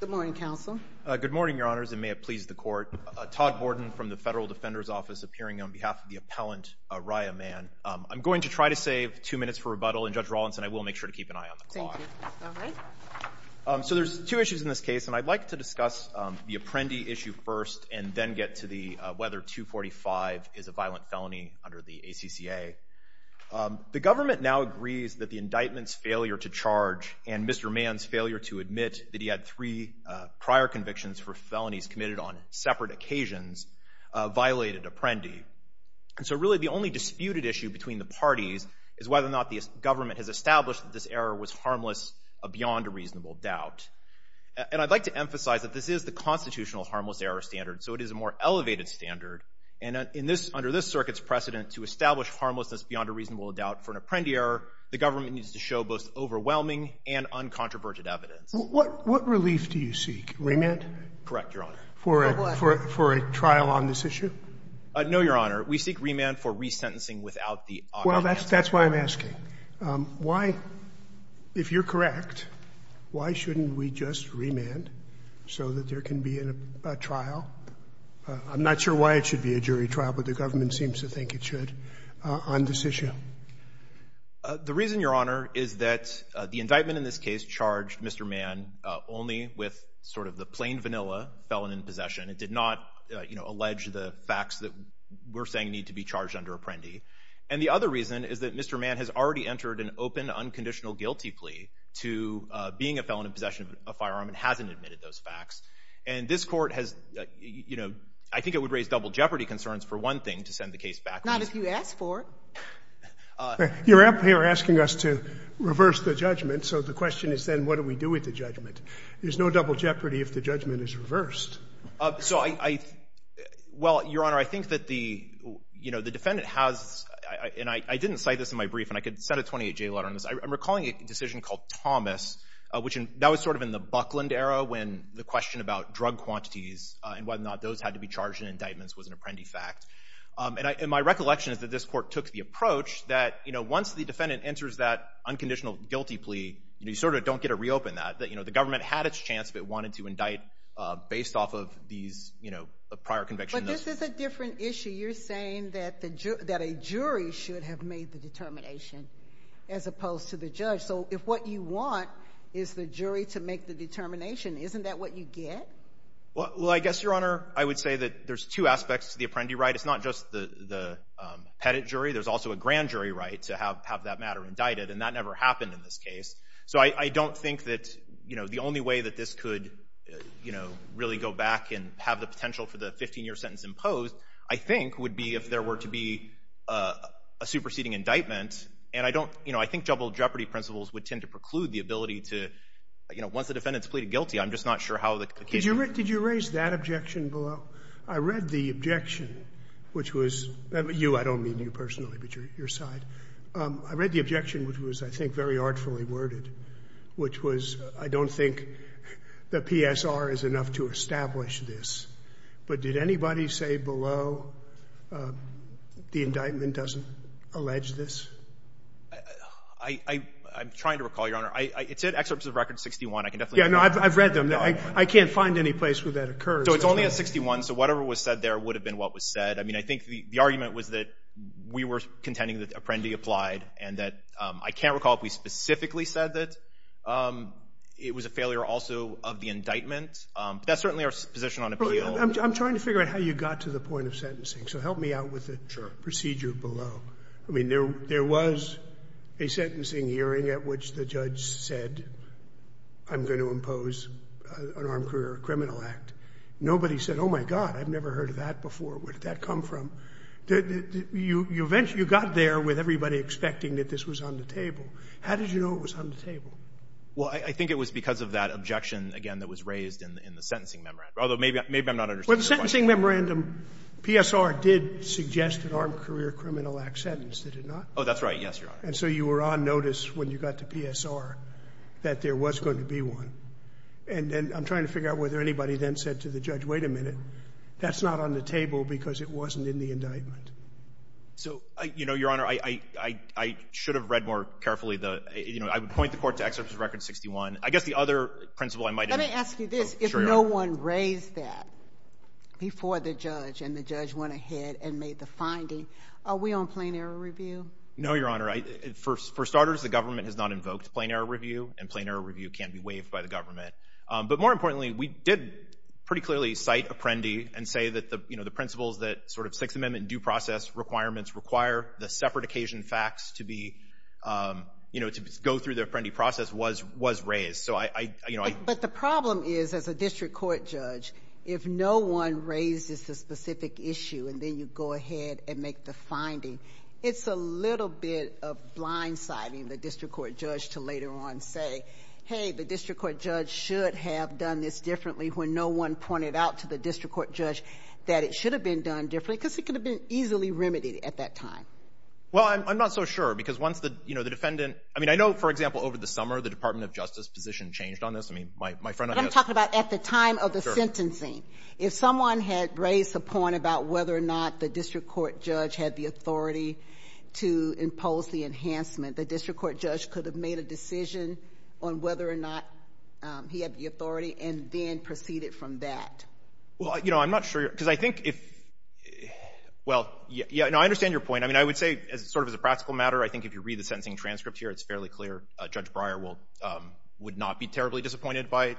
Good morning, Counsel. Good morning, Your Honors, and may it please the Court. Todd Borden from the Federal Defender's Office, appearing on behalf of the appellant, Raya Man. I'm going to try to save two minutes for rebuttal, and Judge Rawlinson, I will make sure to keep an eye on the clock. Thank you. All right. So there's two issues in this case, and I'd like to discuss the Apprendi issue first and then get to whether 245 is a violent felony under the ACCA. The government now agrees that the indictment's failure to charge and Mr. Mann's failure to admit that he had three prior convictions for felonies committed on separate occasions violated Apprendi. And so really the only disputed issue between the parties is whether or not the government has established that this error was harmless beyond a reasonable doubt. And I'd like to emphasize that this is the constitutional harmless error standard, so it is a more elevated standard. And under this circuit's precedent, to establish harmlessness beyond a reasonable doubt for an Apprendi error, the government needs to show both overwhelming and uncontroverted evidence. What relief do you seek? Remand? Correct, Your Honor. For a trial on this issue? No, Your Honor. We seek remand for resentencing without the obvious answer. Well, that's why I'm asking. Why, if you're correct, why shouldn't we just remand so that there can be a trial? I'm not sure why it should be a jury trial, but the government seems to think it should on this issue. The reason, Your Honor, is that the indictment in this case charged Mr. Mann only with sort of the plain vanilla felon in possession. It did not, you know, allege the facts that we're saying need to be charged under Apprendi. And the other reason is that Mr. Mann has already entered an open, unconditional guilty plea to being a felon in possession of a firearm and hasn't admitted those facts. And this Court has, you know, I think it would raise double jeopardy concerns for one thing, to send the case back. Not if you ask for it. You're asking us to reverse the judgment, so the question is then what do we do with the judgment? There's no double jeopardy if the judgment is reversed. So I, well, Your Honor, I think that the, you know, the defendant has, and I didn't cite this in my brief, and I could send a 28-J letter on this. I'm recalling a decision called Thomas, which that was sort of in the Buckland era when the question about drug quantities and whether or not those had to be charged in indictments was an Apprendi fact. And my recollection is that this Court took the approach that, you know, once the defendant enters that unconditional guilty plea, you sort of don't get to reopen that. You know, the government had its chance if it wanted to indict based off of these, you know, prior convictions. But this is a different issue. You're saying that a jury should have made the determination as opposed to the judge. So if what you want is the jury to make the determination, isn't that what you get? Well, I guess, Your Honor, I would say that there's two aspects to the Apprendi right. It's not just the pettit jury. There's also a grand jury right to have that matter indicted, and that never happened in this case. So I don't think that, you know, the only way that this could, you know, really go back and have the potential for the 15-year sentence imposed, I think, would be if there were to be a superseding indictment. And I don't, you know, I think double jeopardy principles would tend to preclude the ability to, you know, once the defendant's pleaded guilty. I'm just not sure how the case would work. Did you raise that objection below? I read the objection, which was you. I don't mean you personally, but your side. I read the objection, which was, I think, very artfully worded, which was I don't think the PSR is enough to establish this. But did anybody say below the indictment doesn't allege this? I'm trying to recall, Your Honor. It said excerpts of Record 61. I can definitely recall. Yeah, no, I've read them. I can't find any place where that occurs. So it's only at 61. So whatever was said there would have been what was said. I mean, I think the argument was that we were contending that Apprendi applied and that I can't recall if we specifically said that. It was a failure also of the indictment. That's certainly our position on appeal. I'm trying to figure out how you got to the point of sentencing, so help me out with the procedure below. I mean, there was a sentencing hearing at which the judge said, I'm going to impose an armed career criminal act. Nobody said, oh, my God, I've never heard of that before. Where did that come from? You eventually got there with everybody expecting that this was on the table. How did you know it was on the table? Well, I think it was because of that objection, again, that was raised in the sentencing memorandum, although maybe I'm not understanding the point. Well, the sentencing memorandum, PSR did suggest an armed career criminal act sentence, did it not? Oh, that's right, yes, Your Honor. And so you were on notice when you got to PSR that there was going to be one. And I'm trying to figure out whether anybody then said to the judge, wait a minute, that's not on the table because it wasn't in the indictment. So, you know, Your Honor, I should have read more carefully. You know, I would point the court to Excerpts of Record 61. I guess the other principle I might have— Let me ask you this. Sure, Your Honor. If no one raised that before the judge and the judge went ahead and made the finding, are we on plain error review? No, Your Honor. For starters, the government has not invoked plain error review, and plain error review can't be waived by the government. But more importantly, we did pretty clearly cite Apprendi and say that, you know, the principles that sort of Sixth Amendment due process requirements require the separate occasion facts to be, you know, to go through the Apprendi process was raised. So I— But the problem is, as a district court judge, if no one raises the specific issue and then you go ahead and make the finding, it's a little bit of blindsiding the district court judge to later on say, hey, the district court judge should have done this differently when no one pointed out to the district court judge that it should have been done differently because it could have been easily remedied at that time. Well, I'm not so sure because once the, you know, the defendant— I mean, I know, for example, over the summer the Department of Justice position changed on this. I mean, my friend— I'm talking about at the time of the sentencing. If someone had raised the point about whether or not the district court judge had the authority to impose the enhancement, the district court judge could have made a decision on whether or not he had the authority and then proceeded from that. Well, you know, I'm not sure because I think if—well, you know, I understand your point. I mean, I would say sort of as a practical matter, I think if you read the sentencing transcript here, it's fairly clear Judge Breyer will—would not be terribly disappointed by—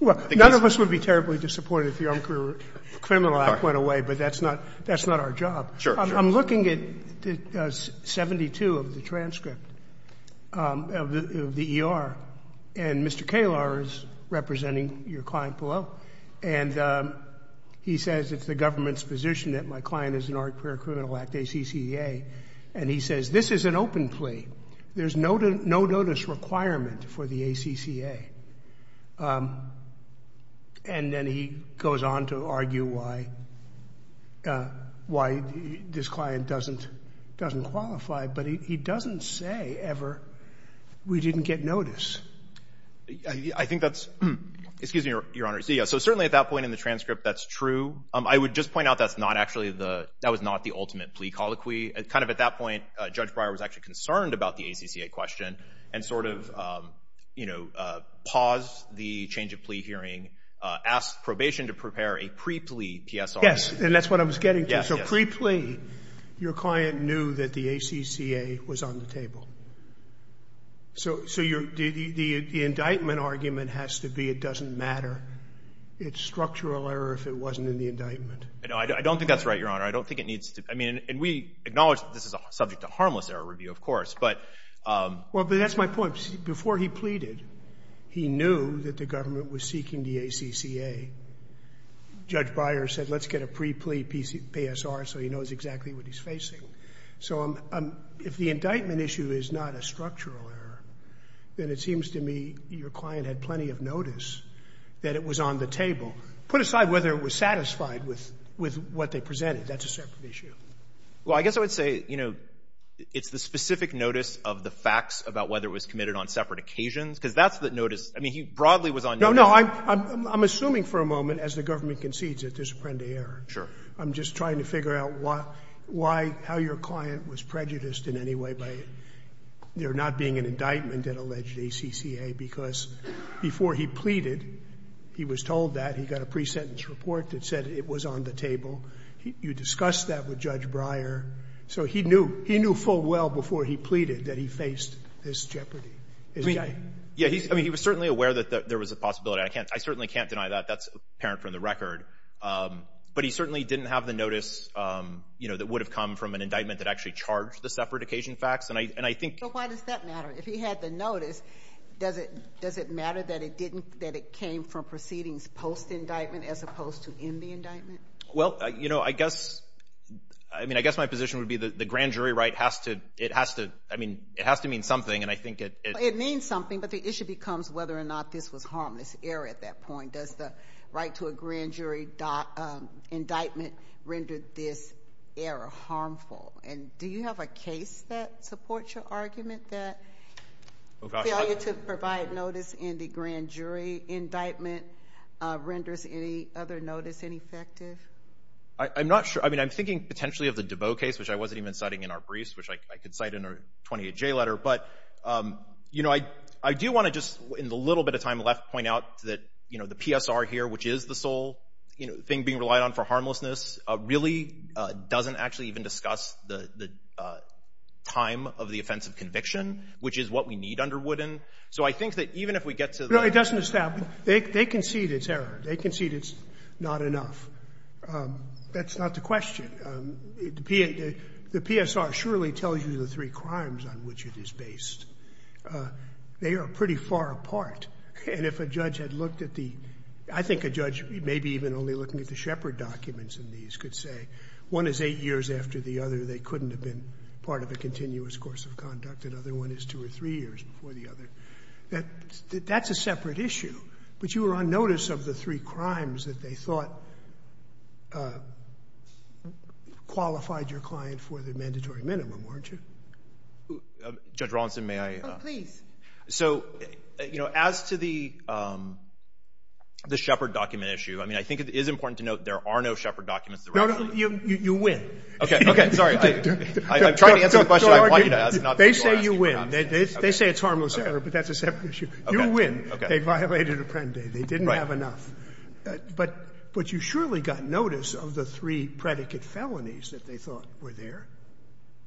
Well, none of us would be terribly disappointed if the Armed Career Criminal Act went away, but that's not—that's not our job. Sure, sure. I'm looking at 72 of the transcript of the ER, and Mr. Kalar is representing your client below, and he says it's the government's position that my client is an Armed Career Criminal Act, ACCA, and he says this is an open plea. There's no notice requirement for the ACCA. And then he goes on to argue why this client doesn't qualify, but he doesn't say ever we didn't get notice. I think that's—excuse me, Your Honor. So certainly at that point in the transcript, that's true. I would just point out that's not actually the—that was not the ultimate plea colloquy. Kind of at that point, Judge Breyer was actually concerned about the ACCA question and sort of paused the change of plea hearing, asked probation to prepare a pre-plea PSR. Yes, and that's what I was getting to. Yes, yes. So pre-plea, your client knew that the ACCA was on the table. So your—the indictment argument has to be it doesn't matter. It's structural error if it wasn't in the indictment. I don't think that's right, Your Honor. I don't think it needs to—I mean, and we acknowledge that this is subject to harmless error review, of course, but— Well, but that's my point. Before he pleaded, he knew that the government was seeking the ACCA. Judge Breyer said let's get a pre-plea PSR so he knows exactly what he's facing. So if the indictment issue is not a structural error, then it seems to me your client had plenty of notice that it was on the table. Put aside whether it was satisfied with what they presented. That's a separate issue. Well, I guess I would say, you know, it's the specific notice of the facts about whether it was committed on separate occasions, because that's the notice. I mean, he broadly was on notice. No, no. I'm assuming for a moment, as the government concedes it, there's a pre-plea error. Sure. I'm just trying to figure out why, how your client was prejudiced in any way by there not being an indictment at alleged ACCA, because before he pleaded, he was told that he got a pre-sentence report that said it was on the table. You discussed that with Judge Breyer. So he knew full well before he pleaded that he faced this jeopardy. I mean, he was certainly aware that there was a possibility. I certainly can't deny that. That's apparent from the record. But he certainly didn't have the notice, you know, that would have come from an indictment that actually charged the separate occasion facts. And I think — But why does that matter? If he had the notice, does it matter that it didn't — that it came from proceedings post-indictment as opposed to in the indictment? Well, you know, I guess — I mean, I guess my position would be that the grand jury right has to — it has to — I mean, it has to mean something. And I think it — It means something, but the issue becomes whether or not this was harmless error at that point. Does the right to a grand jury indictment render this error harmful? And do you have a case that supports your argument that failure to provide notice in the grand jury indictment renders any other notice ineffective? I'm not sure. I mean, I'm thinking potentially of the DeVoe case, which I wasn't even citing in our briefs, which I could cite in our 28J letter. But, you know, I do want to just, in the little bit of time left, point out that, you know, the PSR here, which is the sole thing being relied on for harmlessness, really doesn't actually even discuss the time of the offense of conviction, which is what we need under Wooden. So I think that even if we get to the — No, it doesn't establish. They concede it's error. They concede it's not enough. That's not the question. The PSR surely tells you the three crimes on which it is based. They are pretty far apart. And if a judge had looked at the — I think a judge may be even only looking at the attorneys could say, one is eight years after the other, they couldn't have been part of a continuous course of conduct, another one is two or three years before the other, that's a separate issue. But you were on notice of the three crimes that they thought qualified your client for the mandatory minimum, weren't you? Judge Rawlinson, may I? Oh, please. So, you know, as to the Shepard document issue, I mean, I think it is important to note there are no Shepard documents. No, no. You win. Okay. Okay. Sorry. I'm trying to answer the question I want you to ask. They say you win. They say it's harmless error, but that's a separate issue. You win. They violated Apprendi. They didn't have enough. But you surely got notice of the three predicate felonies that they thought were there.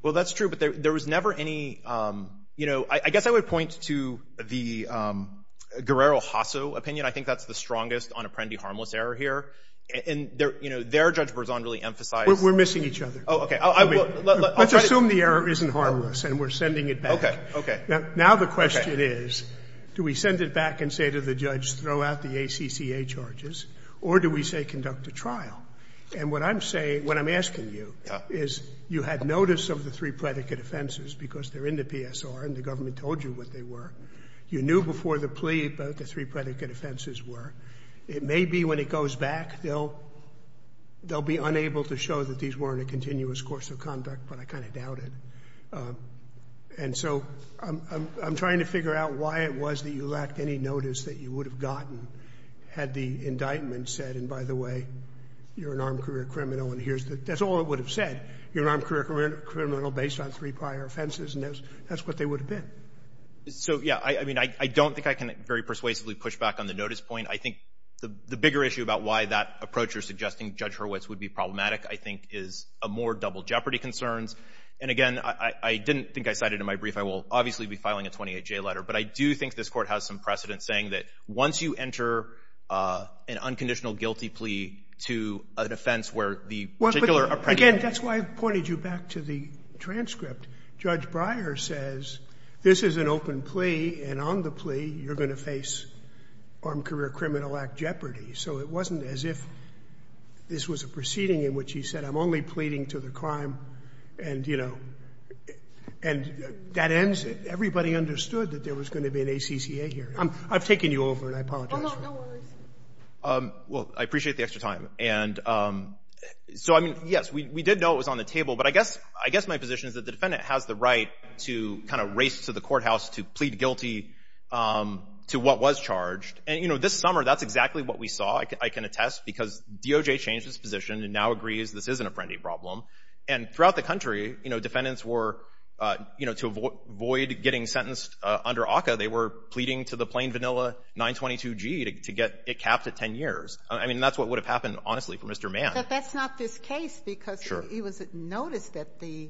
Well, that's true, but there was never any — you know, I guess I would point to the Guerrero-Hasso opinion. I think that's the strongest on Apprendi harmless error here. And, you know, their judge presumably emphasized — We're missing each other. Oh, okay. Let's assume the error isn't harmless and we're sending it back. Okay. Now the question is, do we send it back and say to the judge, throw out the ACCA charges, or do we say conduct a trial? And what I'm saying — what I'm asking you is, you had notice of the three predicate offenses because they're in the PSR and the government told you what they were. You knew before the plea what the three predicate offenses were. It may be when it goes back, they'll be unable to show that these weren't a continuous course of conduct, but I kind of doubt it. And so I'm trying to figure out why it was that you lacked any notice that you would have gotten had the indictment said, and by the way, you're an armed career criminal, and here's the — that's all it would have said. You're an armed career criminal based on three prior offenses, and that's what they would have been. So, yeah, I mean, I don't think I can very persuasively push back on the notice point. I think the bigger issue about why that approach you're suggesting, Judge Hurwitz, would be problematic, I think, is more double jeopardy concerns. And again, I didn't think I cited it in my brief. I will obviously be filing a 28J letter, but I do think this Court has some precedent saying that once you enter an unconditional guilty plea to an offense where the particular — Again, that's why I pointed you back to the transcript. Judge Breyer says, this is an open plea, and on the plea, you're going to face Armed Career Criminal Act jeopardy. So it wasn't as if this was a proceeding in which he said, I'm only pleading to the crime, and, you know, and that ends it. Everybody understood that there was going to be an ACCA here. I've taken you over, and I apologize for that. Well, I appreciate the extra time. And so, I mean, yes, we did know it was on the table, but I guess — I guess my position is that the defendant has the right to kind of race to the courthouse to plead guilty to what was charged. And, you know, this summer, that's exactly what we saw, I can attest, because DOJ changed its position and now agrees this is an Apprendi problem. And throughout the country, you know, defendants were, you know, to avoid getting sentenced under ACCA, they were pleading to the plain vanilla 922G to get it capped at 10 years. I mean, that's what would have happened, honestly, for Mr. Mann. But that's not this case, because he noticed that the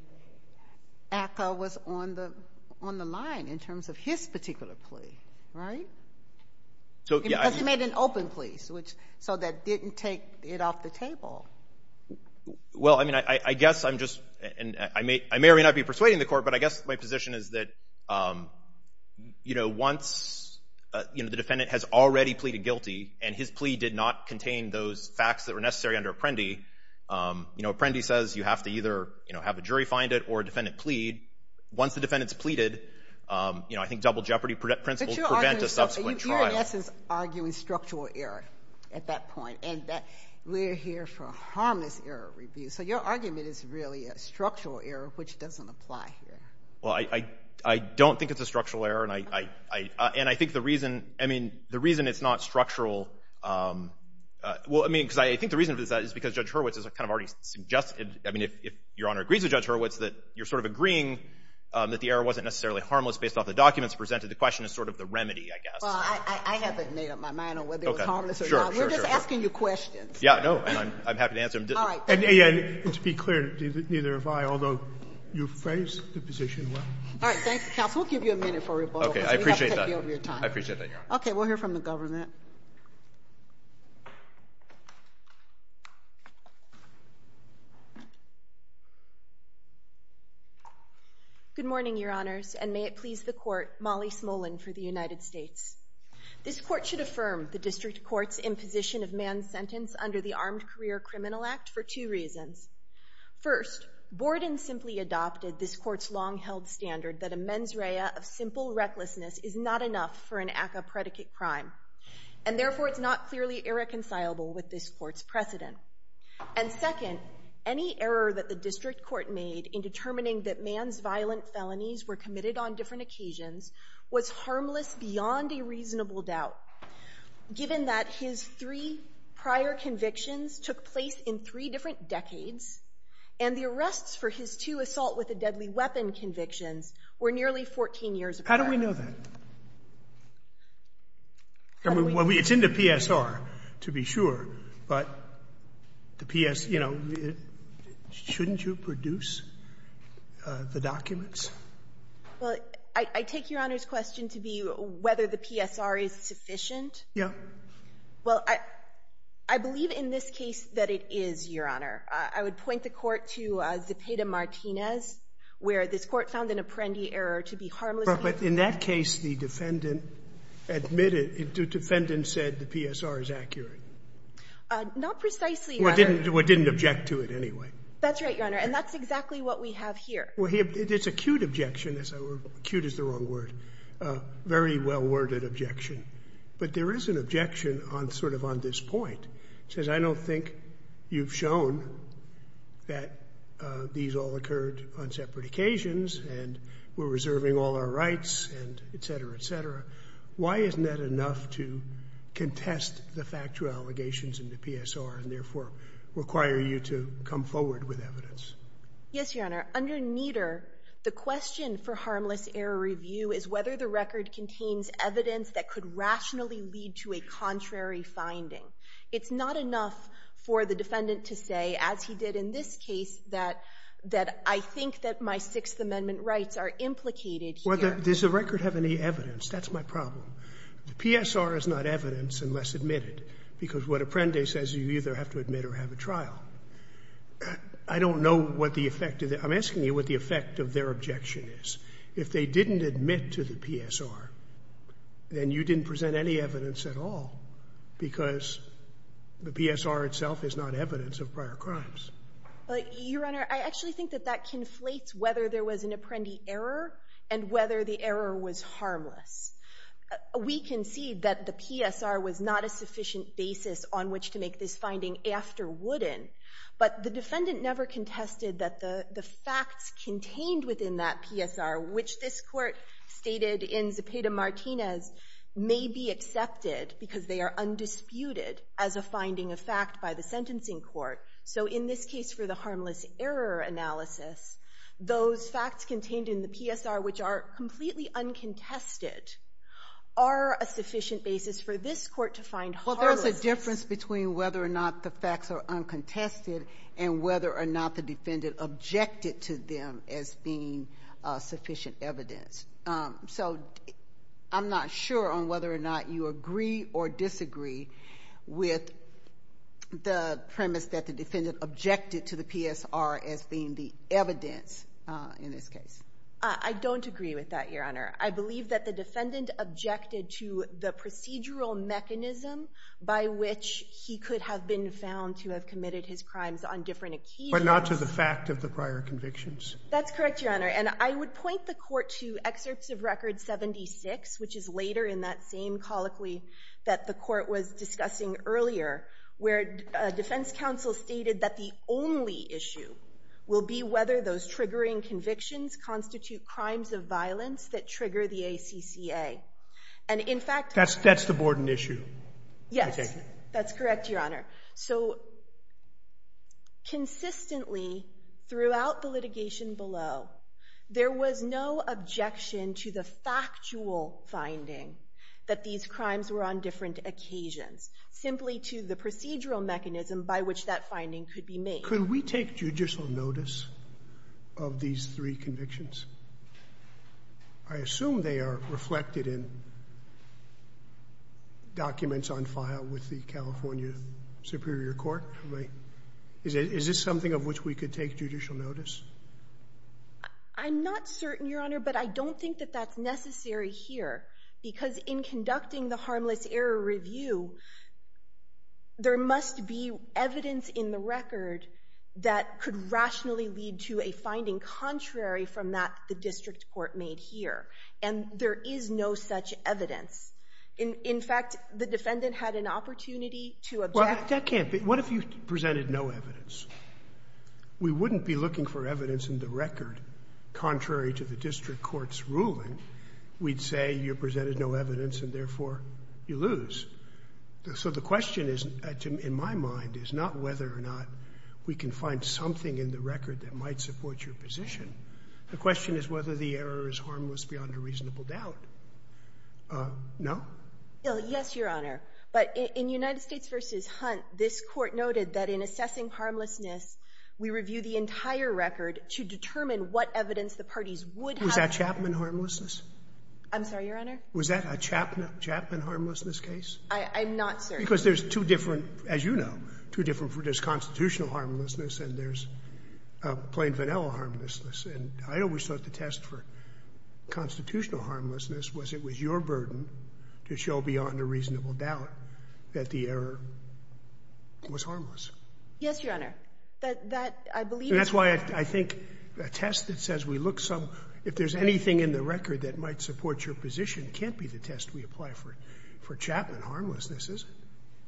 ACCA was on the line in terms of his particular plea, right? Because he made an open plea, so that didn't take it off the table. Well, I mean, I guess I'm just — and I may or may not be persuading the court, but I guess my position is that, you know, once, you know, the defendant has already pleaded guilty and his plea did not contain those facts that were necessary under Apprendi, you know, Apprendi says you have to either, you know, have a jury find it or a defendant plead. Once the defendant's pleaded, you know, I think double jeopardy principles prevent a subsequent trial. But you're, in essence, arguing structural error at that point. And we're here for a harmless error review. So your argument is really a structural error, which doesn't apply here. Well, I don't think it's a structural error. And I think the reason — I mean, the reason it's not structural — well, I mean, because I think the reason for this is because Judge Hurwitz has kind of already suggested — I mean, if Your Honor agrees with Judge Hurwitz, that you're sort of agreeing that the error wasn't necessarily harmless based off the documents presented. The question is sort of the remedy, I guess. Well, I haven't made up my mind on whether it was harmless or not. Okay. Sure, sure, sure. We're just asking you questions. Yeah. No, I'm happy to answer them. All right. Thank you, counsel. We'll give you a minute for rebuttal. Okay, I appreciate that. I appreciate that, Your Honor. Okay, we'll hear from the government. Good morning, Your Honors, and may it please the Court, Molly Smolin for the United States. This Court should affirm the District Court's imposition of man's sentence under the Armed Career Criminal Act for two reasons. First, Borden simply adopted this Court's long-held standard that a mens rea of simple recklessness is not enough for an act of predicate crime, and therefore it's not clearly irreconcilable with this Court's precedent. And second, any error that the District Court made in determining that man's violent felonies were committed on different occasions was harmless beyond a reasonable doubt, given that his three prior convictions took place in three different decades, and the arrests for his two assault with a deadly weapon convictions were nearly 14 years apart. How do we know that? I mean, it's in the PSR to be sure, but the PS, you know, shouldn't you produce the documents? Well, I take Your Honor's question to be whether the PSR is sufficient. Yeah. Well, I believe in this case that it is, Your Honor. I would point the Court to Zepeda-Martinez, where this Court found an apprendi error to be harmless. But in that case, the defendant admitted, the defendant said the PSR is accurate. Not precisely, Your Honor. Well, it didn't object to it anyway. That's right, Your Honor, and that's exactly what we have here. Well, it's acute objection, acute is the wrong word, very well-worded objection. But there is an objection on sort of on this point. It says, I don't think you've shown that these all occurred on separate occasions and we're reserving all our rights and et cetera, et cetera. Why isn't that enough to contest the factual allegations in the PSR and therefore require you to come forward with evidence? Yes, Your Honor. Under Nieder, the question for harmless error review is whether the record contains evidence that could rationally lead to a contrary finding. It's not enough for the defendant to say, as he did in this case, that I think that my Sixth Amendment rights are implicated here. Well, does the record have any evidence? That's my problem. The PSR is not evidence unless admitted, because what apprendi says, you either have to admit or have a trial. I don't know what the effect of the – I'm asking you what the effect of their objection is. If they didn't admit to the PSR, then you didn't present any evidence at all, because the PSR itself is not evidence of prior crimes. Your Honor, I actually think that that conflates whether there was an apprendi error and whether the error was harmless. We concede that the PSR was not a sufficient basis on which to make this finding after Wooden, but the defendant never contested that the facts contained within that PSR, which this Court stated in Zepeda-Martinez may be accepted because they are undisputed as a finding of fact by the sentencing court. So in this case for the harmless error analysis, those facts contained in the PSR which are completely uncontested are a sufficient basis for this Court to find harmlessness. Well, there's a difference between whether or not the facts are uncontested and whether or not the defendant objected to them as being sufficient evidence. So I'm not sure on whether or not you agree or disagree with the premise that the defendant objected to the PSR as being the evidence in this case. I don't agree with that, Your Honor. I believe that the defendant objected to the procedural mechanism by which he could have been found to have committed his crimes on different occasions. But not to the fact of the prior convictions. That's correct, Your Honor. And I would point the Court to excerpts of Record 76, which is later in that same colloquy that the Court was discussing earlier, where defense counsel stated that the only issue will be whether those triggering convictions constitute crimes of violence that trigger the ACCA. And, in fact, That's the Borden issue, I take it? Yes. That's correct, Your Honor. So consistently throughout the litigation below, there was no objection to the factual finding that these crimes were on different occasions, simply to the procedural mechanism by which that finding could be made. Could we take judicial notice of these three convictions? I assume they are reflected in documents on file with the California Superior Court. Is this something of which we could take judicial notice? I'm not certain, Your Honor, but I don't think that that's necessary here. Because in conducting the harmless error review, there must be evidence in the record that could rationally lead to a finding contrary from that the district court made here. And there is no such evidence. In fact, the defendant had an opportunity to object. Well, that can't be. What if you presented no evidence? We wouldn't be looking for evidence in the record contrary to the district court's ruling. We'd say you presented no evidence and, therefore, you lose. So the question is, in my mind, is not whether or not we can find something in the record that might support your position. The question is whether the error is harmless beyond a reasonable doubt. No? Yes, Your Honor. But in United States v. Hunt, this Court noted that in assessing harmlessness, we review the entire record to determine what evidence the parties would have. Was that Chapman harmlessness? I'm sorry, Your Honor? Was that a Chapman harmlessness case? I'm not certain. Because there's two different, as you know, two different versions. There's constitutional harmlessness and there's plain vanilla harmlessness. And I always thought the test for constitutional harmlessness was it was your burden to show beyond a reasonable doubt that the error was harmless. Yes, Your Honor. That I believe is correct. And that's why I think a test that says we look some – if there's anything in the record that might support your position can't be the test we apply for Chapman harmlessness, is it?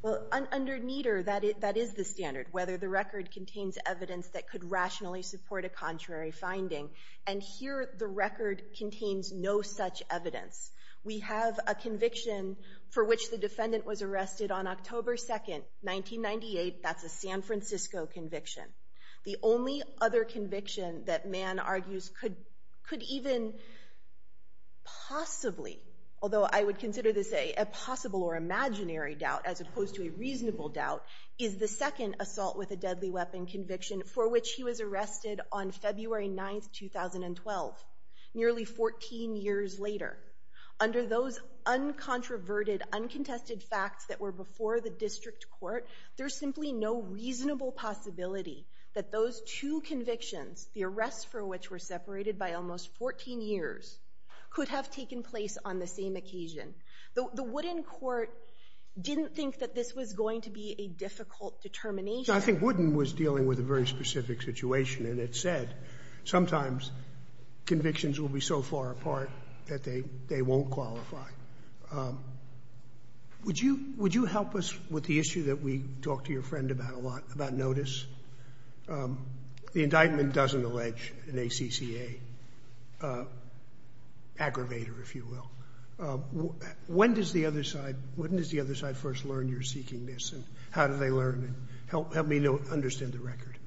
Well, under Nieder, that is the standard, whether the record contains evidence that could rationally support a contrary finding. And here the record contains no such evidence. We have a conviction for which the defendant was arrested on October 2, 1998. That's a San Francisco conviction. The only other conviction that Mann argues could even possibly, although I would consider this a possible or imaginary doubt as opposed to a reasonable doubt, is the second assault with a deadly weapon conviction for which he was arrested on February 9, 2012, nearly 14 years later. Under those uncontroverted, uncontested facts that were before the district court, there's simply no reasonable possibility that those two convictions, the arrests for which were separated by almost 14 years, could have taken place on the same occasion. The Wooden court didn't think that this was going to be a difficult determination. I think Wooden was dealing with a very specific situation, and it said sometimes convictions will be so far apart that they won't qualify. Would you help us with the issue that we talked to your friend about a lot, about notice? The indictment doesn't allege an ACCA aggravator, if you will. When does the other side first learn you're seeking this, and how do they learn it? Help me understand the record.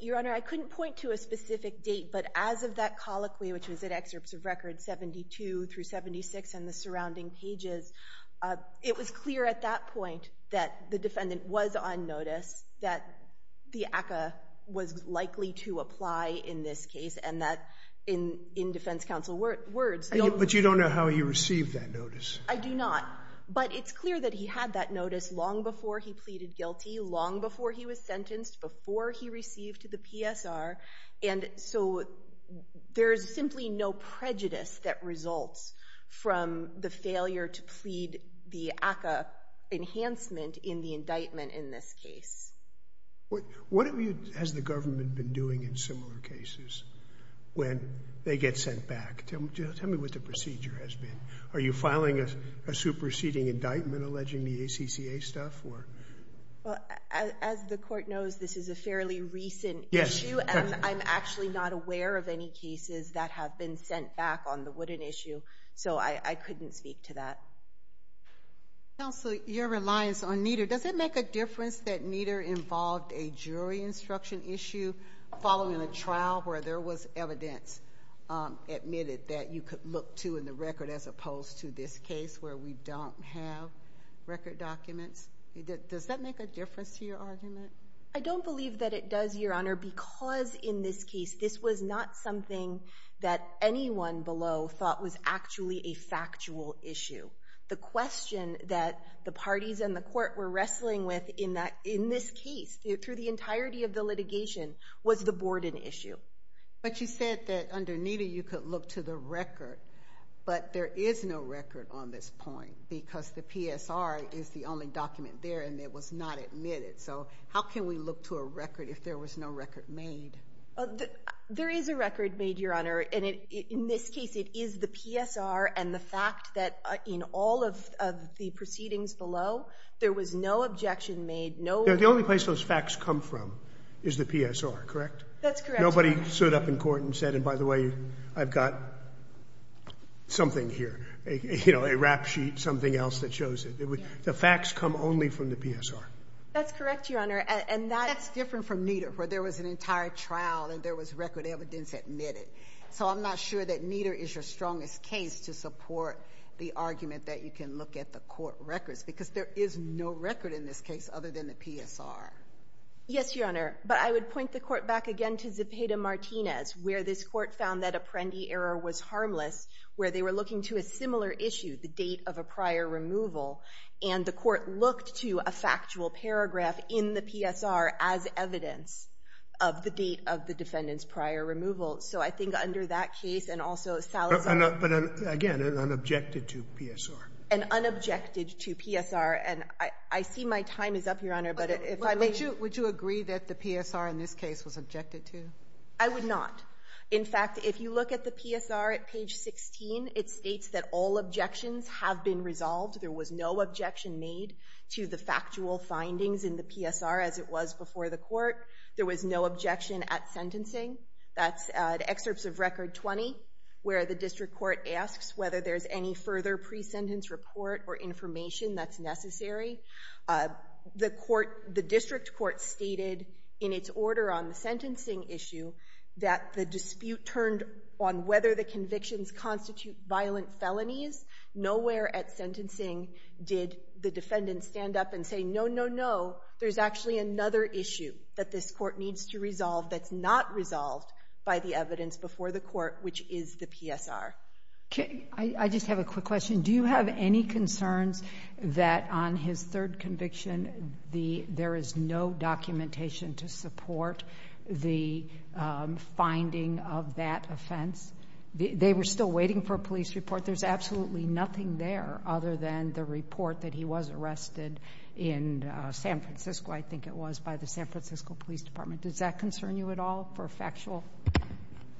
Your Honor, I couldn't point to a specific date, but as of that colloquy, which was at excerpts of records 72 through 76 and the surrounding pages, it was clear at that point that the defendant was on notice, that the ACCA was likely to apply in this case, and that in defense counsel words. But you don't know how he received that notice. I do not, but it's clear that he had that notice long before he pleaded guilty, long before he was sentenced, before he received the PSR, and so there's simply no prejudice that results from the failure to plead the ACCA enhancement in the indictment in this case. What has the government been doing in similar cases when they get sent back? Tell me what the procedure has been. Are you filing a superseding indictment alleging the ACCA stuff? As the court knows, this is a fairly recent issue, and I'm actually not aware of any cases that have been sent back on the Woodin issue, so I couldn't speak to that. Counsel, your reliance on Nieder, does it make a difference that Nieder involved a jury instruction issue following a trial where there was evidence admitted that you could look to in the record as opposed to this case where we don't have record documents? Does that make a difference to your argument? I don't believe that it does, Your Honor, because in this case, this was not something that anyone below thought was actually a factual issue. The question that the parties in the court were wrestling with in this case, through the entirety of the litigation, was the Borden issue. But you said that under Nieder you could look to the record, but there is no record on this point because the PSR is the only document there and it was not admitted. So how can we look to a record if there was no record made? There is a record made, Your Honor, and in this case it is the PSR and the fact that in all of the proceedings below, there was no objection made. The only place those facts come from is the PSR, correct? That's correct. Nobody stood up in court and said, and by the way, I've got something here, a rap sheet, something else that shows it. The facts come only from the PSR. That's correct, Your Honor. That's different from Nieder, where there was an entire trial and there was record evidence admitted. So I'm not sure that Nieder is your strongest case to support the argument that you can look at the court records, because there is no record in this case other than the PSR. Yes, Your Honor, but I would point the court back again to Zepeda-Martinez, where this court found that Apprendi error was harmless, where they were looking to a similar issue, the date of a prior removal, and the court looked to a factual paragraph in the PSR as evidence of the date of the defendant's prior removal. So I think under that case and also Salazar's case. But again, an unobjected to PSR. An unobjected to PSR. And I see my time is up, Your Honor, but if I may. Would you agree that the PSR in this case was objected to? I would not. In fact, if you look at the PSR at page 16, it states that all objections have been resolved. There was no objection made to the factual findings in the PSR, as it was before the court. There was no objection at sentencing. That's excerpts of Record 20, where the district court asks whether there's any further pre-sentence report or information that's necessary. The district court stated in its order on the sentencing issue that the dispute turned on whether the convictions constitute violent felonies. Nowhere at sentencing did the defendant stand up and say, no, no, no, there's actually another issue that this court needs to resolve that's not resolved by the evidence before the court, which is the PSR. I just have a quick question. Do you have any concerns that on his third conviction, there is no documentation to support the finding of that offense? They were still waiting for a police report. There's absolutely nothing there other than the report that he was arrested in San Francisco, I think it was, by the San Francisco Police Department. Does that concern you at all for factual?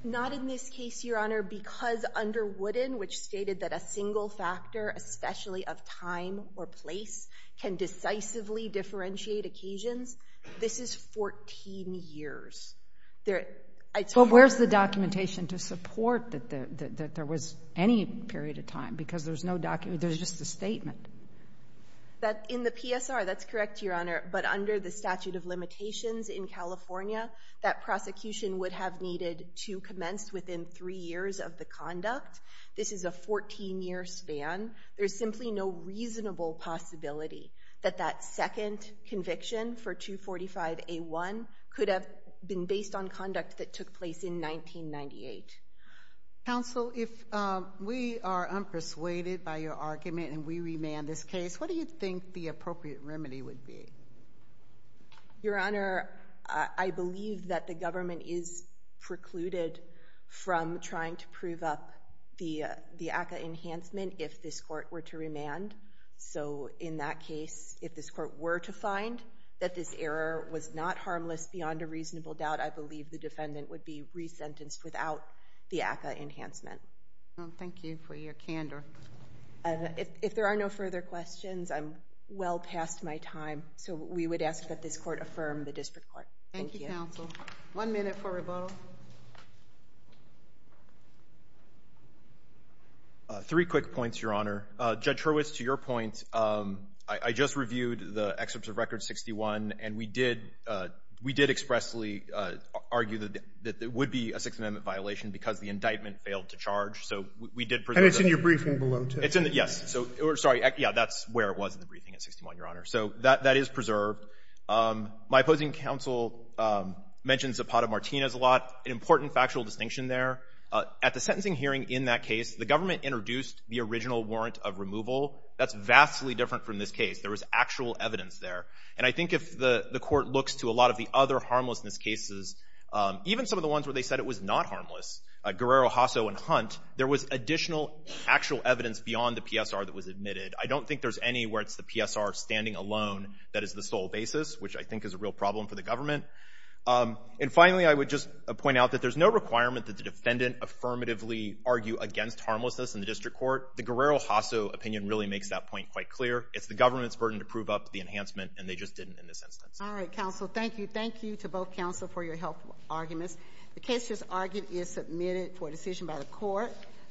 Not in this case, Your Honor, because under Wooden, which stated that a single factor, especially of time or place, can decisively differentiate occasions. This is 14 years. But where's the documentation to support that there was any period of time because there's no document? There's just a statement. In the PSR, that's correct, Your Honor, but under the statute of limitations in California, that prosecution would have needed to commence within three years of the conduct. This is a 14-year span. There's simply no reasonable possibility that that second conviction for 245A1 could have been based on conduct that took place in 1998. Counsel, if we are unpersuaded by your argument and we remand this case, what do you think the appropriate remedy would be? Your Honor, I believe that the government is precluded from trying to prove up the ACCA enhancement if this court were to remand. In that case, if this court were to find that this error was not harmless beyond a reasonable doubt, I believe the defendant would be resentenced without the ACCA enhancement. Thank you for your candor. If there are no further questions, I'm well past my time. We would ask that this court affirm the district court. Thank you, counsel. One minute for rebuttal. Three quick points, Your Honor. Judge Hurwitz, to your point, I just reviewed the excerpts of Record 61, and we did expressly argue that it would be a Sixth Amendment violation because the indictment failed to charge. So we did preserve that. And it's in your briefing below, too. Yes. Sorry. Yeah, that's where it was in the briefing at 61, Your Honor. So that is preserved. My opposing counsel mentions Zapata-Martinez a lot. An important factual distinction there, at the sentencing hearing in that case, the government introduced the original warrant of removal. That's vastly different from this case. There was actual evidence there. And I think if the court looks to a lot of the other harmlessness cases, even some of the ones where they said it was not harmless, Guerrero, Hasso, and Hunt, there was additional actual evidence beyond the PSR that was admitted. I don't think there's any where it's the PSR standing alone that is the sole basis, which I think is a real problem for the government. And finally, I would just point out that there's no requirement that the defendant affirmatively argue against harmlessness in the district court. The Guerrero-Hasso opinion really makes that point quite clear. It's the government's burden to prove up the enhancement, and they just didn't in this instance. All right, counsel. Thank you. Thank you to both counsel for your helpful arguments. The case just argued is submitted for decision by the court.